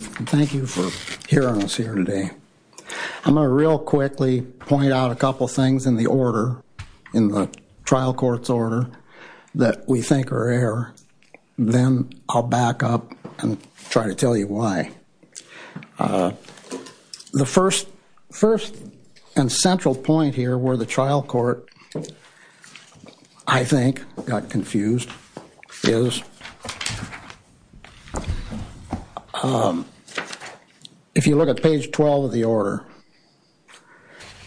Thank you for hearing us here today. I'm going to real quickly point out a couple things in the order, in the trial court's order, that we think are error. Then I'll back up and try to tell you why. The first and central point here where the trial court, I think, got confused is if you look at page 12 of the order,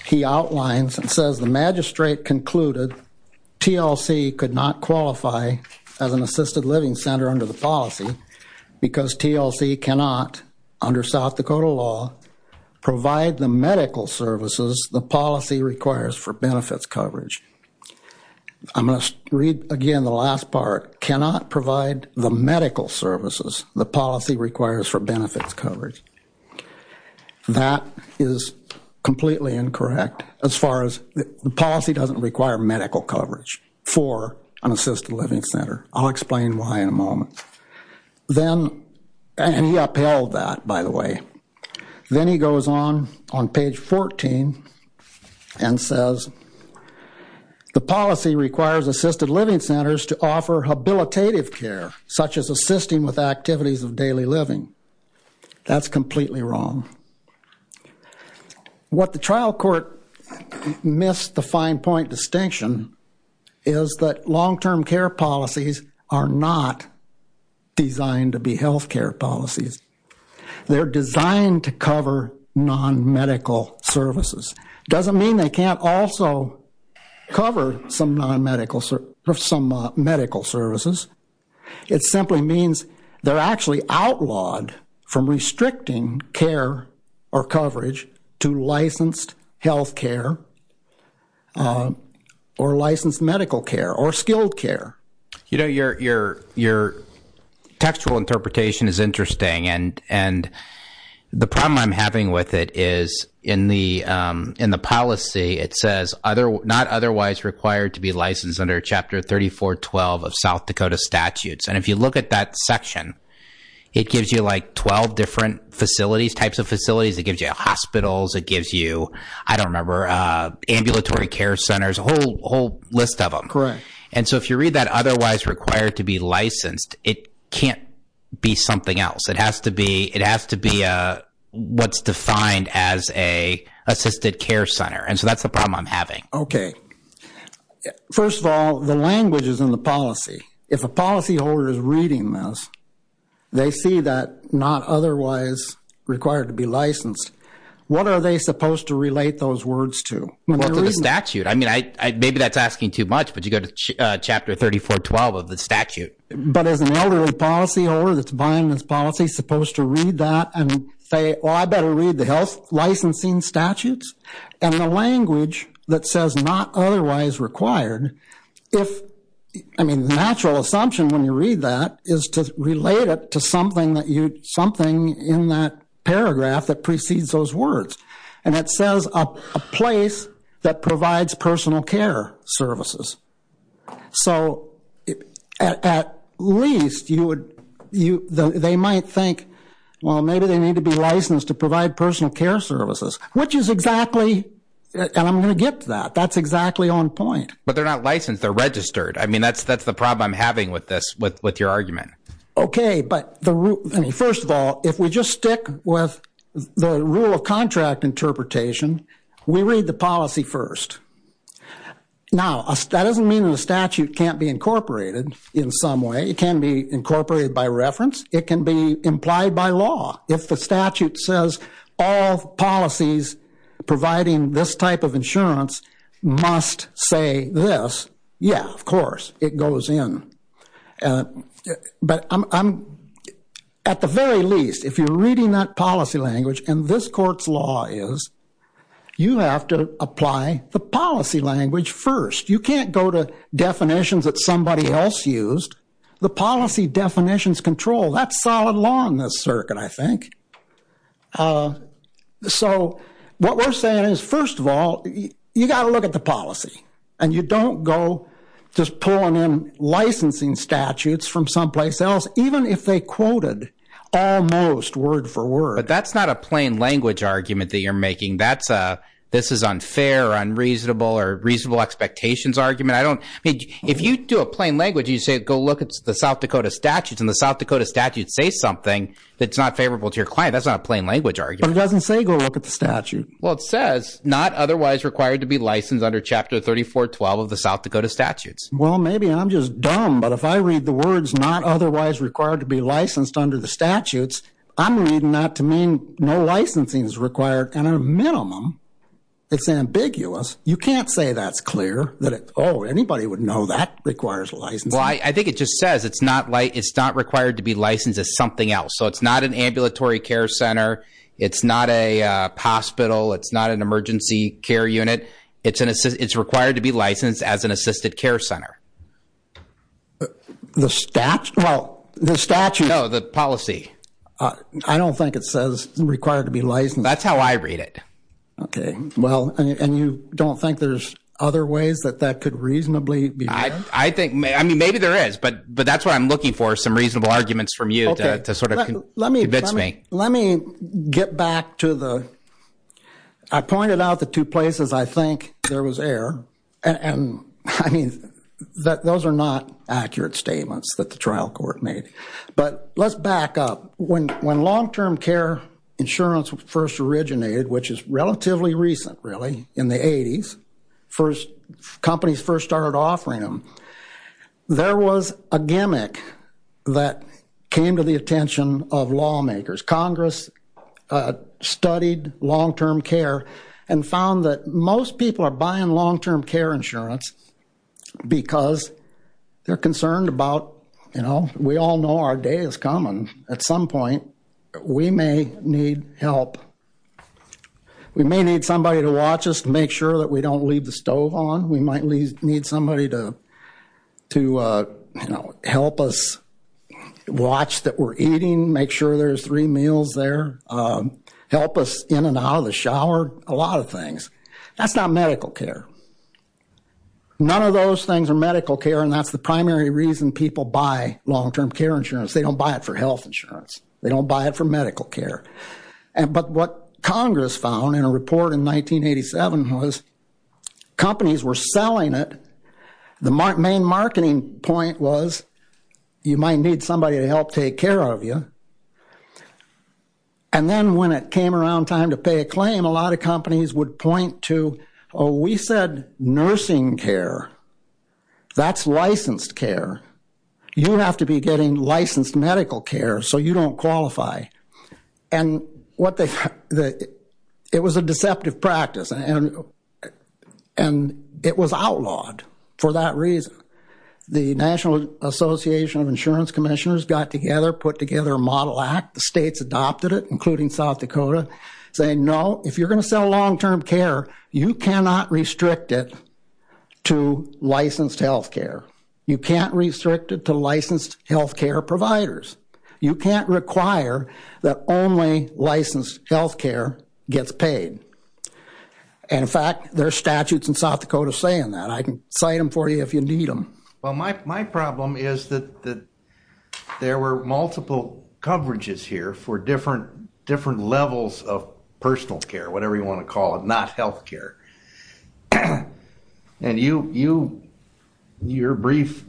he outlines and says the magistrate concluded TLC could not qualify as an assisted living center under the policy because TLC cannot under South Dakota law provide the medical services the policy requires for benefits coverage. I'm going to read again the last part. Cannot provide the medical services the policy requires for benefits coverage. That is completely incorrect as far as the policy doesn't require medical coverage for an assisted living center. I'll explain why in a moment. Then, and he upheld that, by the way. Then he goes on, on page 14 and says the policy requires assisted living centers to offer habilitative care such as assisting with activities of daily living. That's completely wrong. What the trial court missed the fine point distinction is that long-term care policies are not designed to be health care policies. They're designed to cover non-medical services. Doesn't mean they can't also cover some non-medical, some medical services. It simply means they're actually outlawed from restricting care or coverage to licensed health care or licensed medical care or skilled care. You know, your textual interpretation is interesting and the problem I'm having with it is in the policy it says not otherwise required to be licensed under Chapter 3412 of South Dakota statutes. And if you look at that section, it gives you like 12 different facilities, types of facilities. It gives you hospitals. It gives you, I don't remember, ambulatory care centers, a whole list of them. Correct. And so if you read that otherwise required to be licensed, it can't be something else. It has to be, it has to be what's defined as a assisted care center. And so that's the problem I'm having. Okay. First of all, the language is in the policy. If a policy holder is reading this, they see that not otherwise required to be licensed. What are they supposed to relate those words to? Well, to the statute. I mean, maybe that's asking too much, but you go to Chapter 3412 of the statute. But is an elderly policy holder that's buying this policy supposed to read that and say, well, I better read the health licensing statutes? And the language that says not otherwise required, if, I mean, the natural assumption when you read that is to relate it to something that you, something in that paragraph that precedes those words. And it says a place that provides personal care services. So at least you would, they might think, well, maybe they need to be licensed to provide personal care services, which is exactly, and I'm going to get to that, that's exactly on point. But they're not licensed, they're registered. I mean, that's the problem I'm having with this, with your argument. Okay, but the, I mean, first of all, if we just stick with the rule of contract interpretation, we read the policy first. Now, that doesn't mean that a statute can't be incorporated in some way. It can be incorporated by reference. It can be implied by law. If the statute says all policies providing this type of insurance must say this, yeah, of course, it goes in. But I'm, at the very least, if you're reading that policy language, and this court's law is, you have to apply the policy language first. You can't go to definitions that somebody else used. The policy definitions control, that's solid law in this circuit, I think. So what we're saying is, first of all, you got to look at the policy. And you don't go just pulling in licensing statutes from someplace else, even if they quoted almost word for word. But that's not a plain language argument that you're making. That's a, this is unfair or unreasonable or reasonable expectations argument. I don't, I mean, if you do a plain language, you say, go look at the South Dakota statutes, and the South Dakota statutes say something that's not favorable to your client. That's not a plain language argument. But it doesn't say, go look at the statute. Well, it says, not otherwise required to be licensed under Chapter 3412 of the South Dakota statutes. Well, maybe I'm just dumb. But if I read the words, not otherwise required to be licensed under the statutes, I'm reading that to mean no licensing is required. At a minimum, it's ambiguous. You can't say that's clear, that, oh, anybody would know that requires licensing. Well, I think it just says it's not, it's not required to be licensed as something else. So it's not an ambulatory care center. It's not a hospital. It's not an emergency care unit. It's required to be licensed as an assisted care center. The statute? Well, the statute. No, the policy. I don't think it says required to be licensed. That's how I read it. OK. Well, and you don't think there's other ways that that could reasonably be done? I think, I mean, maybe there is. But that's what I'm looking for, some reasonable arguments from you to sort of convince me. Let me get back to the, I pointed out the two places I think there was error. And, I mean, those are not accurate statements that the trial court made. But let's back up. When long-term care insurance first originated, which is relatively recent, really, in the 80s, companies first started offering them, there was a gimmick that came to the attention of lawmakers. Congress studied long-term care and found that most people are buying long-term care insurance because they're concerned about, you know, we all know our day is coming. At some point, we may need help. We may need somebody to watch us to make sure that we don't leave the stove on. We might need somebody to, you know, help us watch that we're eating, make sure there's three meals there, help us in and out of the shower, a lot of things. That's not medical care. None of those things are medical care, and that's the primary reason people buy long-term care insurance. They don't buy it for health insurance. They don't buy it for medical care. But what Congress found in a report in 1987 was companies were selling it. The main marketing point was you might need somebody to help take care of you. And then when it came around time to pay a claim, a lot of companies would point to, oh, we said nursing care. That's licensed care. You have to be getting licensed medical care so you don't qualify. And it was a deceptive practice, and it was outlawed for that reason. The National Association of Insurance Commissioners got together, put together a model act. The states adopted it, including South Dakota, saying, no, if you're going to sell long-term care, you cannot restrict it to licensed health care. You can't restrict it to licensed health care providers. You can't require that only licensed health care gets paid. And, in fact, there are statutes in South Dakota saying that. I can cite them for you if you need them. Well, my problem is that there were multiple coverages here for different levels of personal care, whatever you want to call it, not health care. And your brief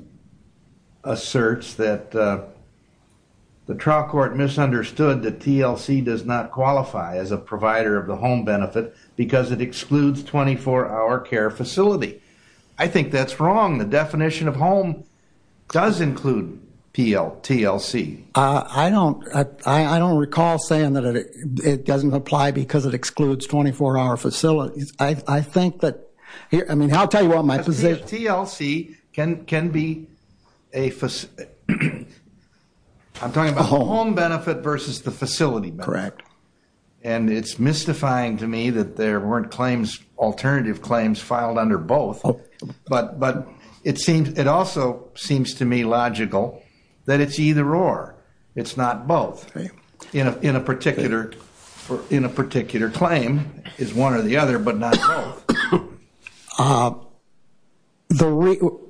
asserts that the trial court misunderstood that TLC does not qualify as a provider of the home benefit because it excludes 24-hour care facility. I think that's wrong. The definition of home does include TLC. I don't recall saying that it doesn't apply because it excludes 24-hour facilities. I'll tell you what my position is. TLC can be a facility. I'm talking about home benefit versus the facility benefit. Correct. And it's mystifying to me that there weren't alternative claims filed under both. But it also seems to me logical that it's either-or, it's not both. In a particular claim, it's one or the other but not both.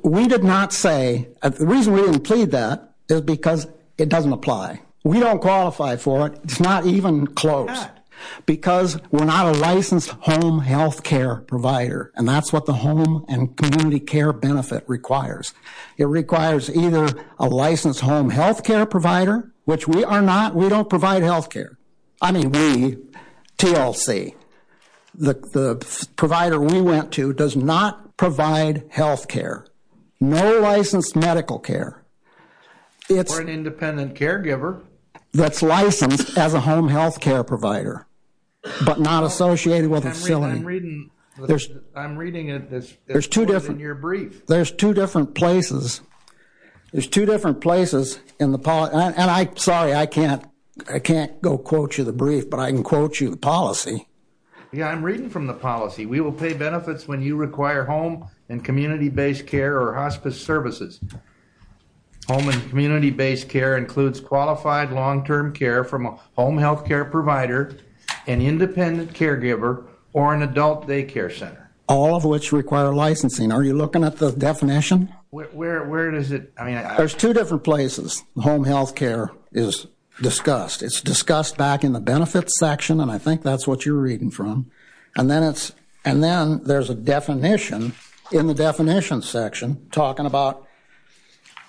We did not say-the reason we didn't plead that is because it doesn't apply. We don't qualify for it. It's not even close because we're not a licensed home health care provider, and that's what the home and community care benefit requires. It requires either a licensed home health care provider, which we are not. We don't provide health care. I mean we, TLC, the provider we went to does not provide health care. No licensed medical care. We're an independent caregiver. That's licensed as a home health care provider but not associated with a facility. I'm reading it as more than your brief. There's two different places. There's two different places in the policy, and I'm sorry, I can't go quote you the brief, but I can quote you the policy. Yeah, I'm reading from the policy. We will pay benefits when you require home and community-based care or hospice services. Home and community-based care includes qualified long-term care from a home health care provider, an independent caregiver, or an adult daycare center. All of which require licensing. Are you looking at the definition? Where is it? There's two different places home health care is discussed. It's discussed back in the benefits section, and I think that's what you're reading from. And then there's a definition in the definition section talking about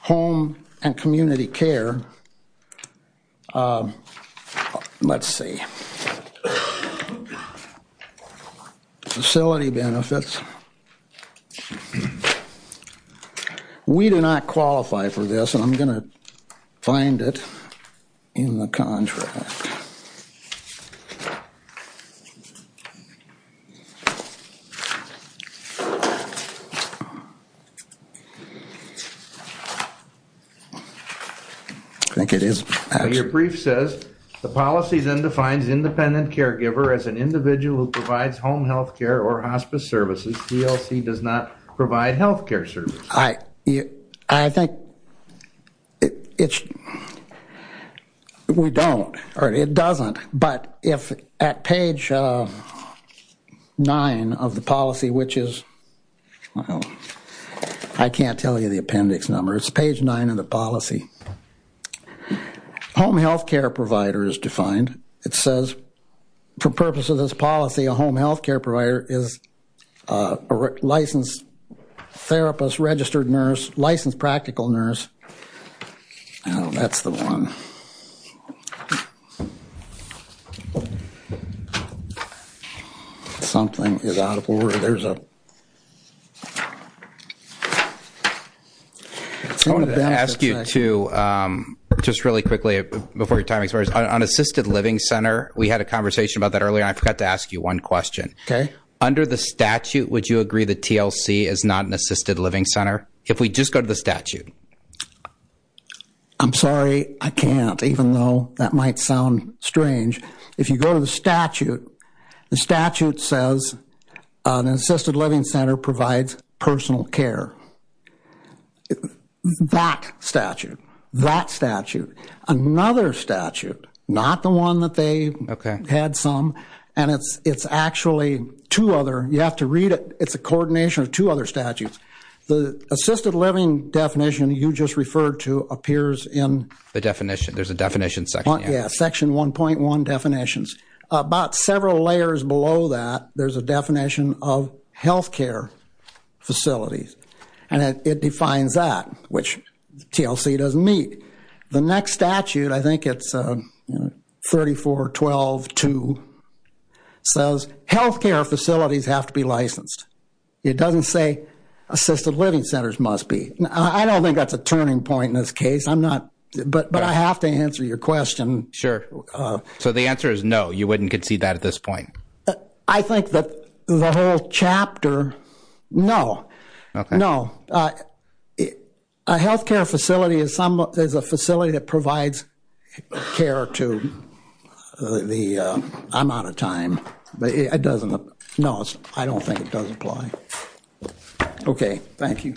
home and community care. Let's see. Facility benefits. We do not qualify for this, and I'm going to find it in the contract. I think it is. Your brief says the policy then defines independent caregiver as an individual who provides home health care or hospice services. DLC does not provide health care services. I think it's, we don't, or it doesn't. But if at page 9 of the policy, which is, I can't tell you the appendix number. It's page 9 of the policy. Home health care provider is defined. It says for purposes of this policy, a home health care provider is a licensed therapist, registered nurse, licensed practical nurse. That's the one. Something is out of order. There's a. I wanted to ask you to, just really quickly, before your time expires, on assisted living center, we had a conversation about that earlier, and I forgot to ask you one question. Okay. Under the statute, would you agree that TLC is not an assisted living center? If we just go to the statute. I'm sorry, I can't, even though that might sound strange. If you go to the statute, the statute says an assisted living center provides personal care. That statute, that statute. Another statute, not the one that they had some, and it's actually two other. You have to read it. It's a coordination of two other statutes. The assisted living definition you just referred to appears in. The definition. There's a definition section. Yeah, section 1.1 definitions. About several layers below that, there's a definition of health care facilities, and it defines that, which TLC doesn't meet. The next statute, I think it's 34.12.2, says health care facilities have to be licensed. It doesn't say assisted living centers must be. I don't think that's a turning point in this case. I'm not, but I have to answer your question. Sure. So the answer is no, you wouldn't concede that at this point? I think that the whole chapter, no. Okay. No. A health care facility is a facility that provides care to the, I'm out of time. No, I don't think it does apply. Okay. Thank you.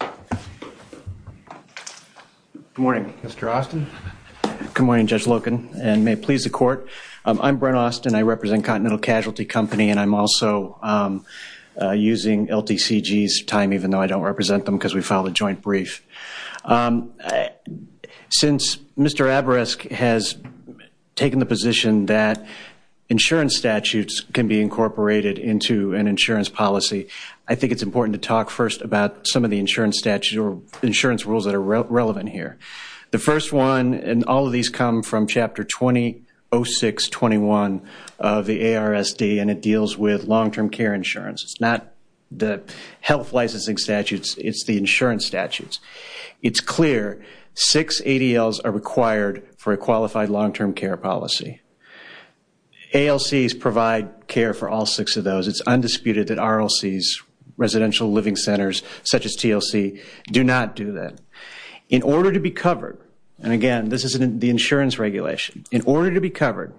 Good morning, Mr. Austin. Good morning, Judge Loken, and may it please the court. I'm Brent Austin. I represent Continental Casualty Company, and I'm also using LTCG's time, even though I don't represent them because we filed a joint brief. Since Mr. Aberesk has taken the position that insurance statutes can be incorporated into an insurance policy, I think it's important to talk first about some of the insurance rules that are relevant here. The first one, and all of these come from Chapter 2006-21 of the ARSD, and it deals with long-term care insurance. It's not the health licensing statutes. It's the insurance statutes. It's clear six ADLs are required for a qualified long-term care policy. ALCs provide care for all six of those. It's undisputed that RLCs, residential living centers such as TLC, do not do that. In order to be covered, and again, this is the insurance regulation. In order to be covered,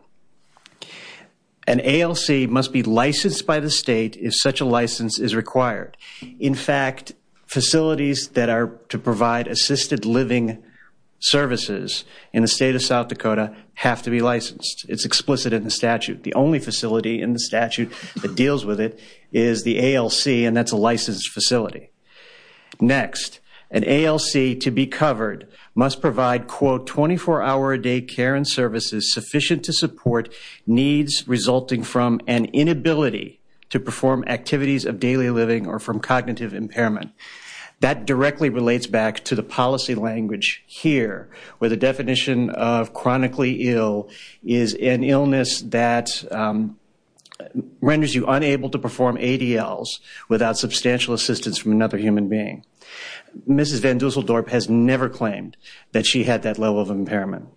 an ALC must be licensed by the state if such a license is required. In fact, facilities that are to provide assisted living services in the state of South Dakota have to be licensed. It's explicit in the statute. The only facility in the statute that deals with it is the ALC, and that's a licensed facility. Next, an ALC to be covered must provide, quote, sufficient to support needs resulting from an inability to perform activities of daily living or from cognitive impairment. That directly relates back to the policy language here, where the definition of chronically ill is an illness that renders you unable to perform ADLs without substantial assistance from another human being. Mrs. Van Dusseldorp has never claimed that she had that level of impairment,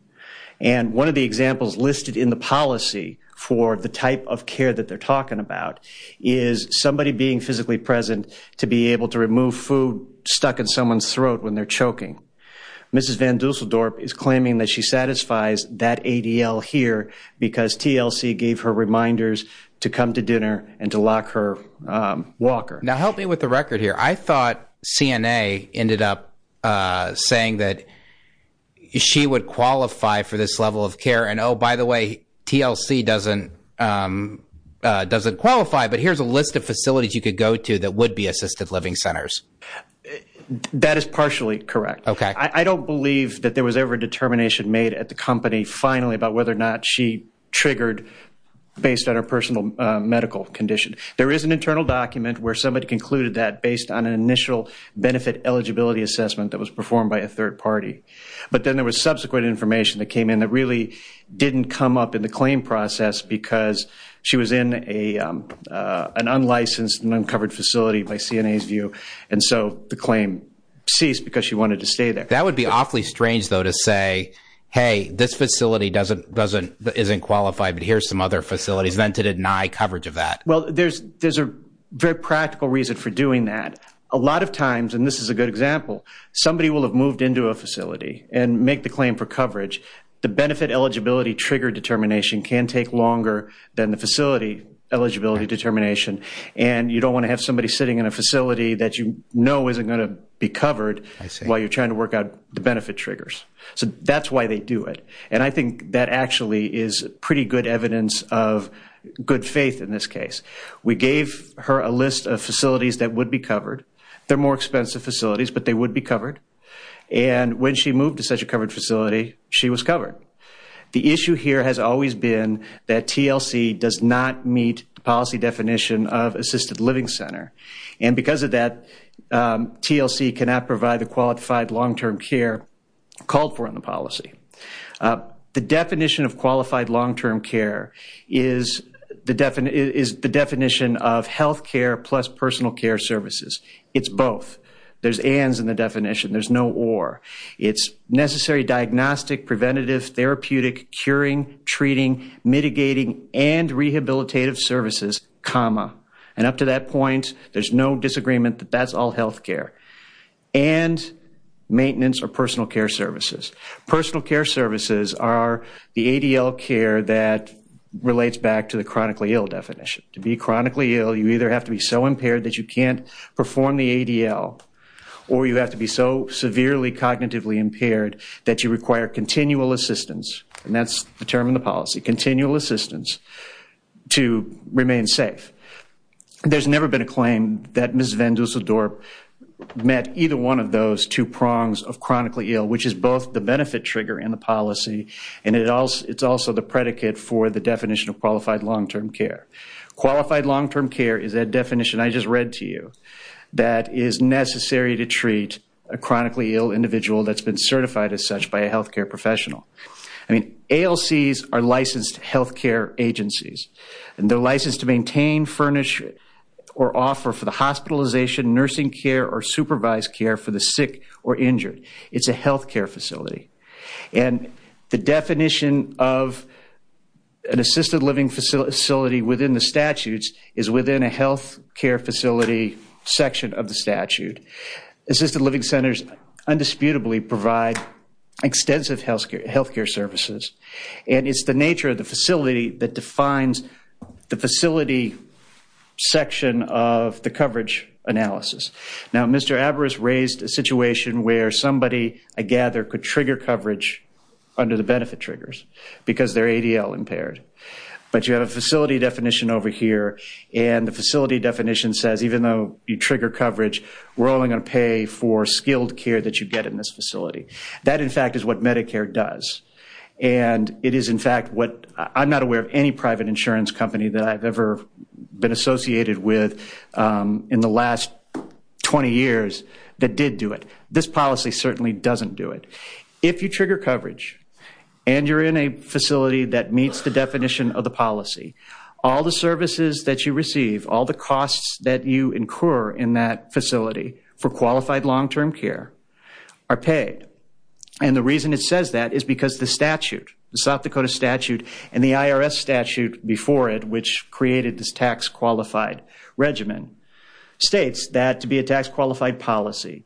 and one of the examples listed in the policy for the type of care that they're talking about is somebody being physically present to be able to remove food stuck in someone's throat when they're choking. Mrs. Van Dusseldorp is claiming that she satisfies that ADL here because TLC gave her reminders to come to dinner and to lock her walker. Now, help me with the record here. I thought CNA ended up saying that she would qualify for this level of care, and oh, by the way, TLC doesn't qualify, but here's a list of facilities you could go to that would be assisted living centers. That is partially correct. I don't believe that there was ever a determination made at the company finally about whether or not she triggered based on her personal medical condition. There is an internal document where somebody concluded that based on an initial benefit eligibility assessment that was performed by a third party, but then there was subsequent information that came in that really didn't come up in the claim process because she was in an unlicensed and uncovered facility by CNA's view, and so the claim ceased because she wanted to stay there. That would be awfully strange, though, to say, hey, this facility isn't qualified, but here's some other facilities, then to deny coverage of that. Well, there's a very practical reason for doing that. A lot of times, and this is a good example, somebody will have moved into a facility and make the claim for coverage. The benefit eligibility trigger determination can take longer than the facility eligibility determination, and you don't want to have somebody sitting in a facility that you know isn't going to be covered while you're trying to work out the benefit triggers. So that's why they do it, and I think that actually is pretty good evidence of good faith in this case. We gave her a list of facilities that would be covered. They're more expensive facilities, but they would be covered, and when she moved to such a covered facility, she was covered. The issue here has always been that TLC does not meet the policy definition of assisted living center, and because of that, TLC cannot provide the qualified long-term care called for in the policy. The definition of qualified long-term care is the definition of health care plus personal care services. It's both. There's ands in the definition. There's no or. It's necessary diagnostic, preventative, therapeutic, curing, treating, mitigating, and rehabilitative services, comma. And up to that point, there's no disagreement that that's all health care. And maintenance or personal care services. Personal care services are the ADL care that relates back to the chronically ill definition. To be chronically ill, you either have to be so impaired that you can't perform the ADL, or you have to be so severely cognitively impaired that you require continual assistance, and that's the term in the policy, continual assistance to remain safe. There's never been a claim that Ms. Van Dusseldorp met either one of those two prongs of chronically ill, which is both the benefit trigger and the policy, and it's also the predicate for the definition of qualified long-term care. Qualified long-term care is that definition I just read to you that is necessary to treat a chronically ill individual that's been certified as such by a health care professional. I mean, ALCs are licensed health care agencies, and they're licensed to maintain, furnish, or offer for the hospitalization, nursing care, or supervised care for the sick or injured. It's a health care facility. And the definition of an assisted living facility within the statutes is within a health care facility section of the statute. Assisted living centers undisputably provide extensive health care services, and it's the nature of the facility that defines the facility section of the coverage analysis. Now, Mr. Averis raised a situation where somebody, I gather, could trigger coverage under the benefit triggers because they're ADL impaired. But you have a facility definition over here, and the facility definition says even though you trigger coverage, we're only going to pay for skilled care that you get in this facility. That, in fact, is what Medicare does. And it is, in fact, what I'm not aware of any private insurance company that I've ever been associated with in the last 20 years that did do it. This policy certainly doesn't do it. If you trigger coverage and you're in a facility that meets the definition of the policy, all the services that you receive, all the costs that you incur in that facility for qualified long-term care are paid. And the reason it says that is because the statute, the South Dakota statute, and the IRS statute before it, which created this tax-qualified regimen, states that to be a tax-qualified policy,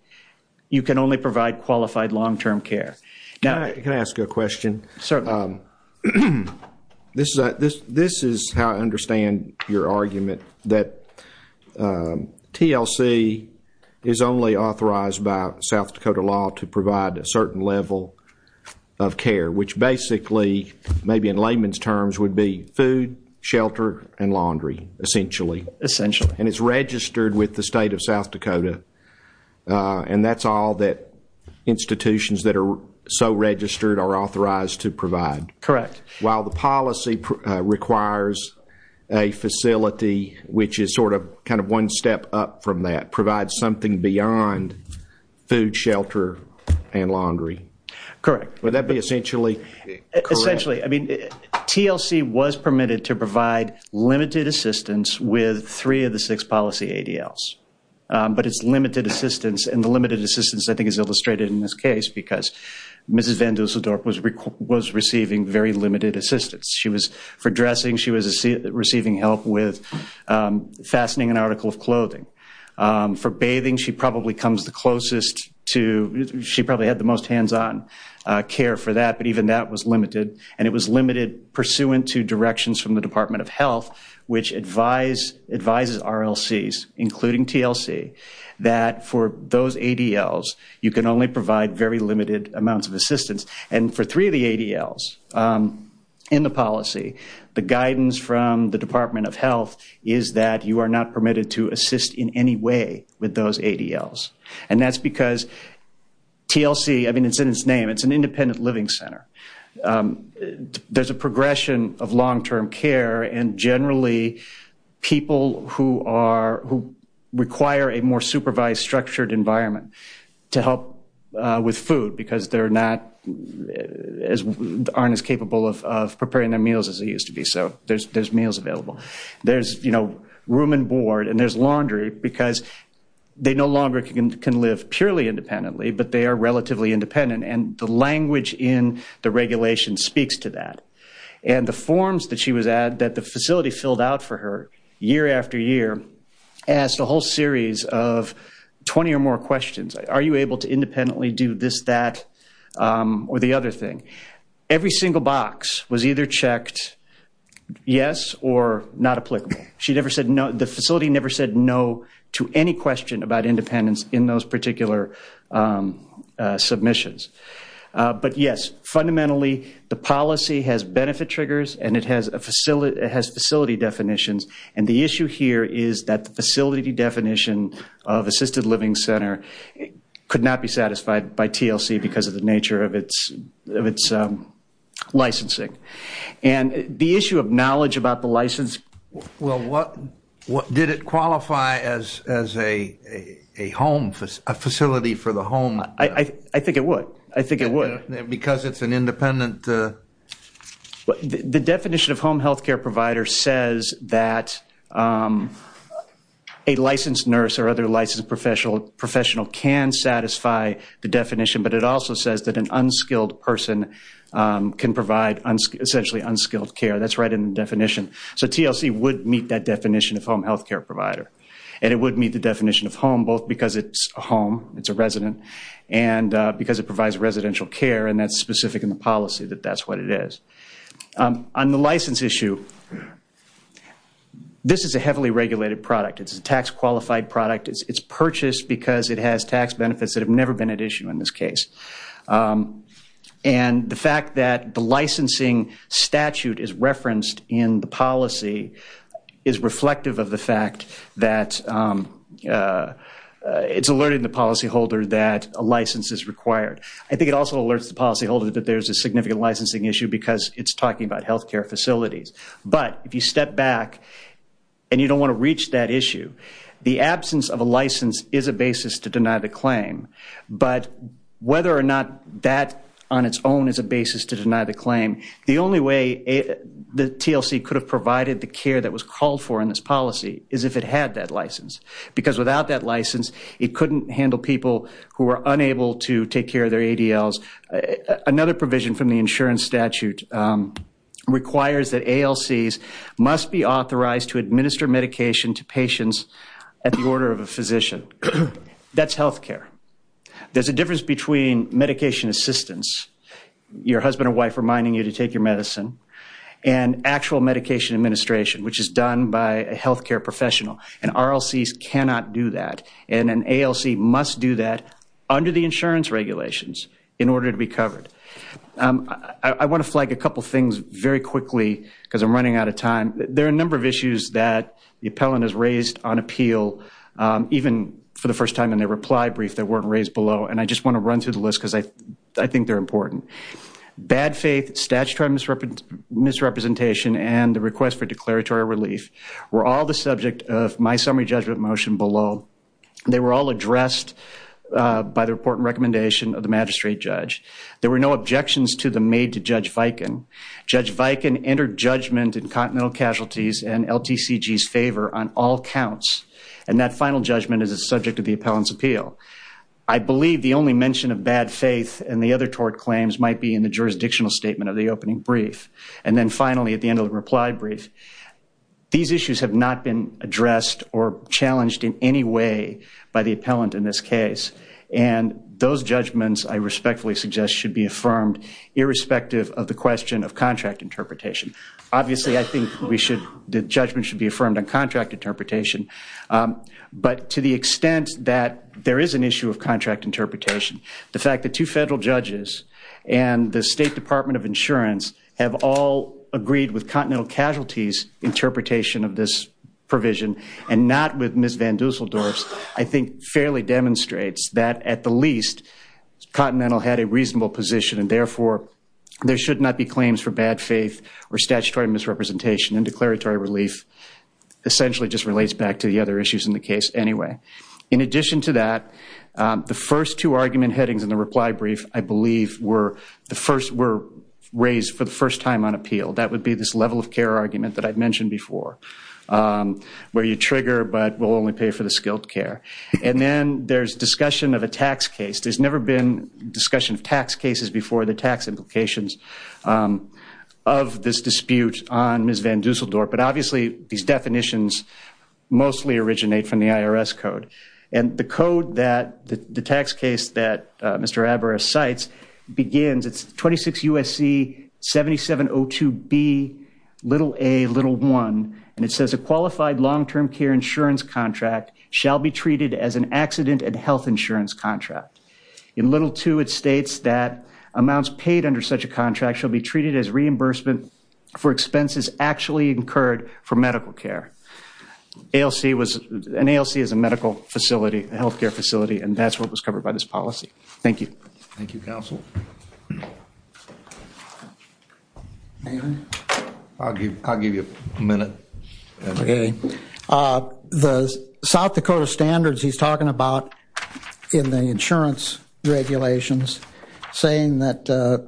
you can only provide qualified long-term care. Can I ask you a question? Certainly. This is how I understand your argument, that TLC is only authorized by South Dakota law to provide a certain level of care, which basically, maybe in layman's terms, would be food, shelter, and laundry, essentially. Essentially. And it's registered with the state of South Dakota, and that's all that institutions that are so registered are authorized to provide. Correct. While the policy requires a facility which is sort of kind of one step up from that, provides something beyond food, shelter, and laundry. Correct. Would that be essentially correct? Essentially. I mean, TLC was permitted to provide limited assistance with three of the six policy ADLs, but it's limited assistance, and the limited assistance, I think, is illustrated in this case, because Mrs. Van Dusseldorp was receiving very limited assistance. She was, for dressing, she was receiving help with fastening an article of clothing. For bathing, she probably comes the closest to, she probably had the most hands-on care for that, but even that was limited, and it was limited pursuant to directions from the Department of Health, which advises RLCs, including TLC, that for those ADLs, you can only provide very limited amounts of assistance. And for three of the ADLs in the policy, the guidance from the Department of Health is that you are not permitted to assist in any way with those ADLs. And that's because TLC, I mean, it's in its name, it's an independent living center. There's a progression of long-term care, and generally people who are, who require a more supervised, structured environment to help with food, because they're not as, aren't as capable of preparing their meals as they used to be. So there's meals available. There's, you know, room and board, and there's laundry, because they no longer can live purely independently, but they are relatively independent. And the language in the regulation speaks to that. And the forms that she was at, that the facility filled out for her year after year, asked a whole series of 20 or more questions. Are you able to independently do this, that, or the other thing? Every single box was either checked yes or not applicable. She never said no, the facility never said no to any question about independence in those particular submissions. But yes, fundamentally, the policy has benefit triggers, and it has facility definitions. And the issue here is that the facility definition of assisted living center could not be satisfied by TLC because of the nature of its licensing. And the issue of knowledge about the license. Well, what, did it qualify as a home, a facility for the home? I think it would. I think it would. Because it's an independent. The definition of home health care provider says that a licensed nurse or other licensed professional can satisfy the definition, but it also says that an unskilled person can provide essentially unskilled care. That's right in the definition. So TLC would meet that definition of home health care provider, and it would meet the definition of home both because it's a home, it's a resident, and because it provides residential care, and that's specific in the policy that that's what it is. On the license issue, this is a heavily regulated product. It's a tax-qualified product. It's purchased because it has tax benefits that have never been at issue in this case. And the fact that the licensing statute is referenced in the policy is reflective of the fact that it's alerted the policyholder that a license is required. I think it also alerts the policyholder that there's a significant licensing issue because it's talking about health care facilities. But if you step back and you don't want to reach that issue, the absence of a license is a basis to deny the claim. But whether or not that on its own is a basis to deny the claim, the only way the TLC could have provided the care that was called for in this policy is if it had that license. Because without that license, it couldn't handle people who are unable to take care of their ADLs. Another provision from the insurance statute requires that ALCs must be authorized to administer medication to patients at the order of a physician. That's health care. There's a difference between medication assistance, your husband or wife reminding you to take your medicine, and actual medication administration, which is done by a health care professional. And RLCs cannot do that. And an ALC must do that under the insurance regulations in order to be covered. I want to flag a couple things very quickly because I'm running out of time. There are a number of issues that the appellant has raised on appeal, even for the first time in their reply brief that weren't raised below, and I just want to run through the list because I think they're important. Bad faith, statutory misrepresentation, and the request for declaratory relief were all the subject of my summary judgment motion below. They were all addressed by the report and recommendation of the magistrate judge. There were no objections to them made to Judge Viken. Judge Viken entered judgment in Continental Casualties and LTCG's favor on all counts, and that final judgment is the subject of the appellant's appeal. I believe the only mention of bad faith and the other tort claims might be in the jurisdictional statement of the opening brief, and then finally at the end of the reply brief. These issues have not been addressed or challenged in any way by the appellant in this case, and those judgments, I respectfully suggest, should be affirmed, irrespective of the question of contract interpretation. Obviously, I think the judgment should be affirmed on contract interpretation, but to the extent that there is an issue of contract interpretation, the fact that two federal judges and the State Department of Insurance have all agreed with Continental Casualties' interpretation of this provision and not with Ms. Van Dusseldorf's, I think fairly demonstrates that, at the least, Continental had a reasonable position and, therefore, there should not be claims for bad faith or statutory misrepresentation in declaratory relief, essentially just relates back to the other issues in the case anyway. In addition to that, the first two argument headings in the reply brief, I believe, were raised for the first time on appeal. That would be this level of care argument that I mentioned before, where you trigger but will only pay for the skilled care. And then there's discussion of a tax case. There's never been discussion of tax cases before the tax implications of this dispute on Ms. Van Dusseldorf, but obviously these definitions mostly originate from the IRS code. And the code that the tax case that Mr. Abera cites begins, it's 26 U.S.C. 7702B, little a, little one, and it says a qualified long-term care insurance contract shall be treated as an accident and health insurance contract. In little two, it states that amounts paid under such a contract shall be treated as reimbursement for expenses actually incurred for medical care. An ALC is a medical facility, a health care facility, and that's what was covered by this policy. Thank you. Thank you, counsel. I'll give you a minute. The South Dakota standards he's talking about in the insurance regulations, saying that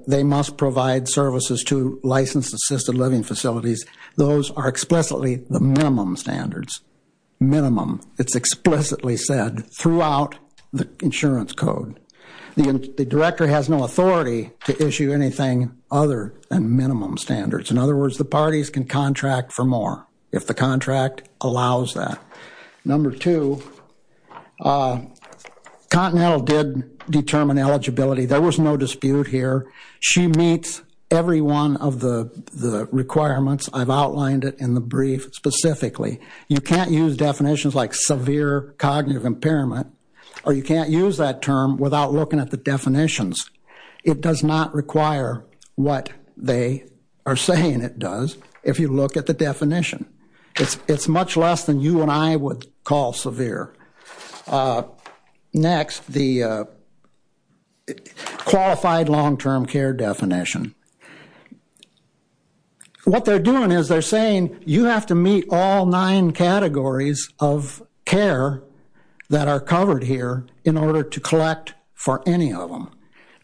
they must provide services to licensed assisted living facilities, those are explicitly the minimum standards. Minimum. It's explicitly said throughout the insurance code. The director has no authority to issue anything other than minimum standards. In other words, the parties can contract for more if the contract allows that. Number two, Continental did determine eligibility. There was no dispute here. She meets every one of the requirements. I've outlined it in the brief specifically. You can't use definitions like severe cognitive impairment, or you can't use that term without looking at the definitions. It does not require what they are saying it does if you look at the definition. It's much less than you and I would call severe. Next, the qualified long-term care definition. What they're doing is they're saying you have to meet all nine categories of care that are covered here in order to collect for any of them.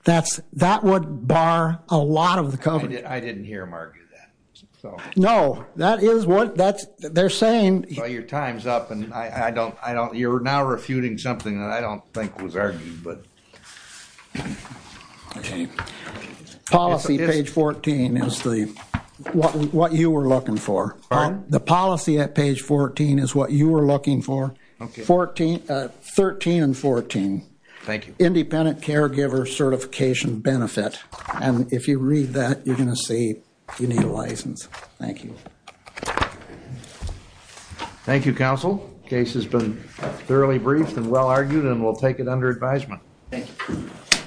That would bar a lot of the coverage. I didn't hear them argue that. No, that is what they're saying. Your time is up, and you're now refuting something that I don't think was argued. Policy, page 14, is what you were looking for. Pardon? The policy at page 14 is what you were looking for, 13 and 14. Thank you. Independent caregiver certification benefit. If you read that, you're going to see you need a license. Thank you. Thank you, counsel. Case has been thoroughly briefed and well argued, and we'll take it under advisement. Thank you.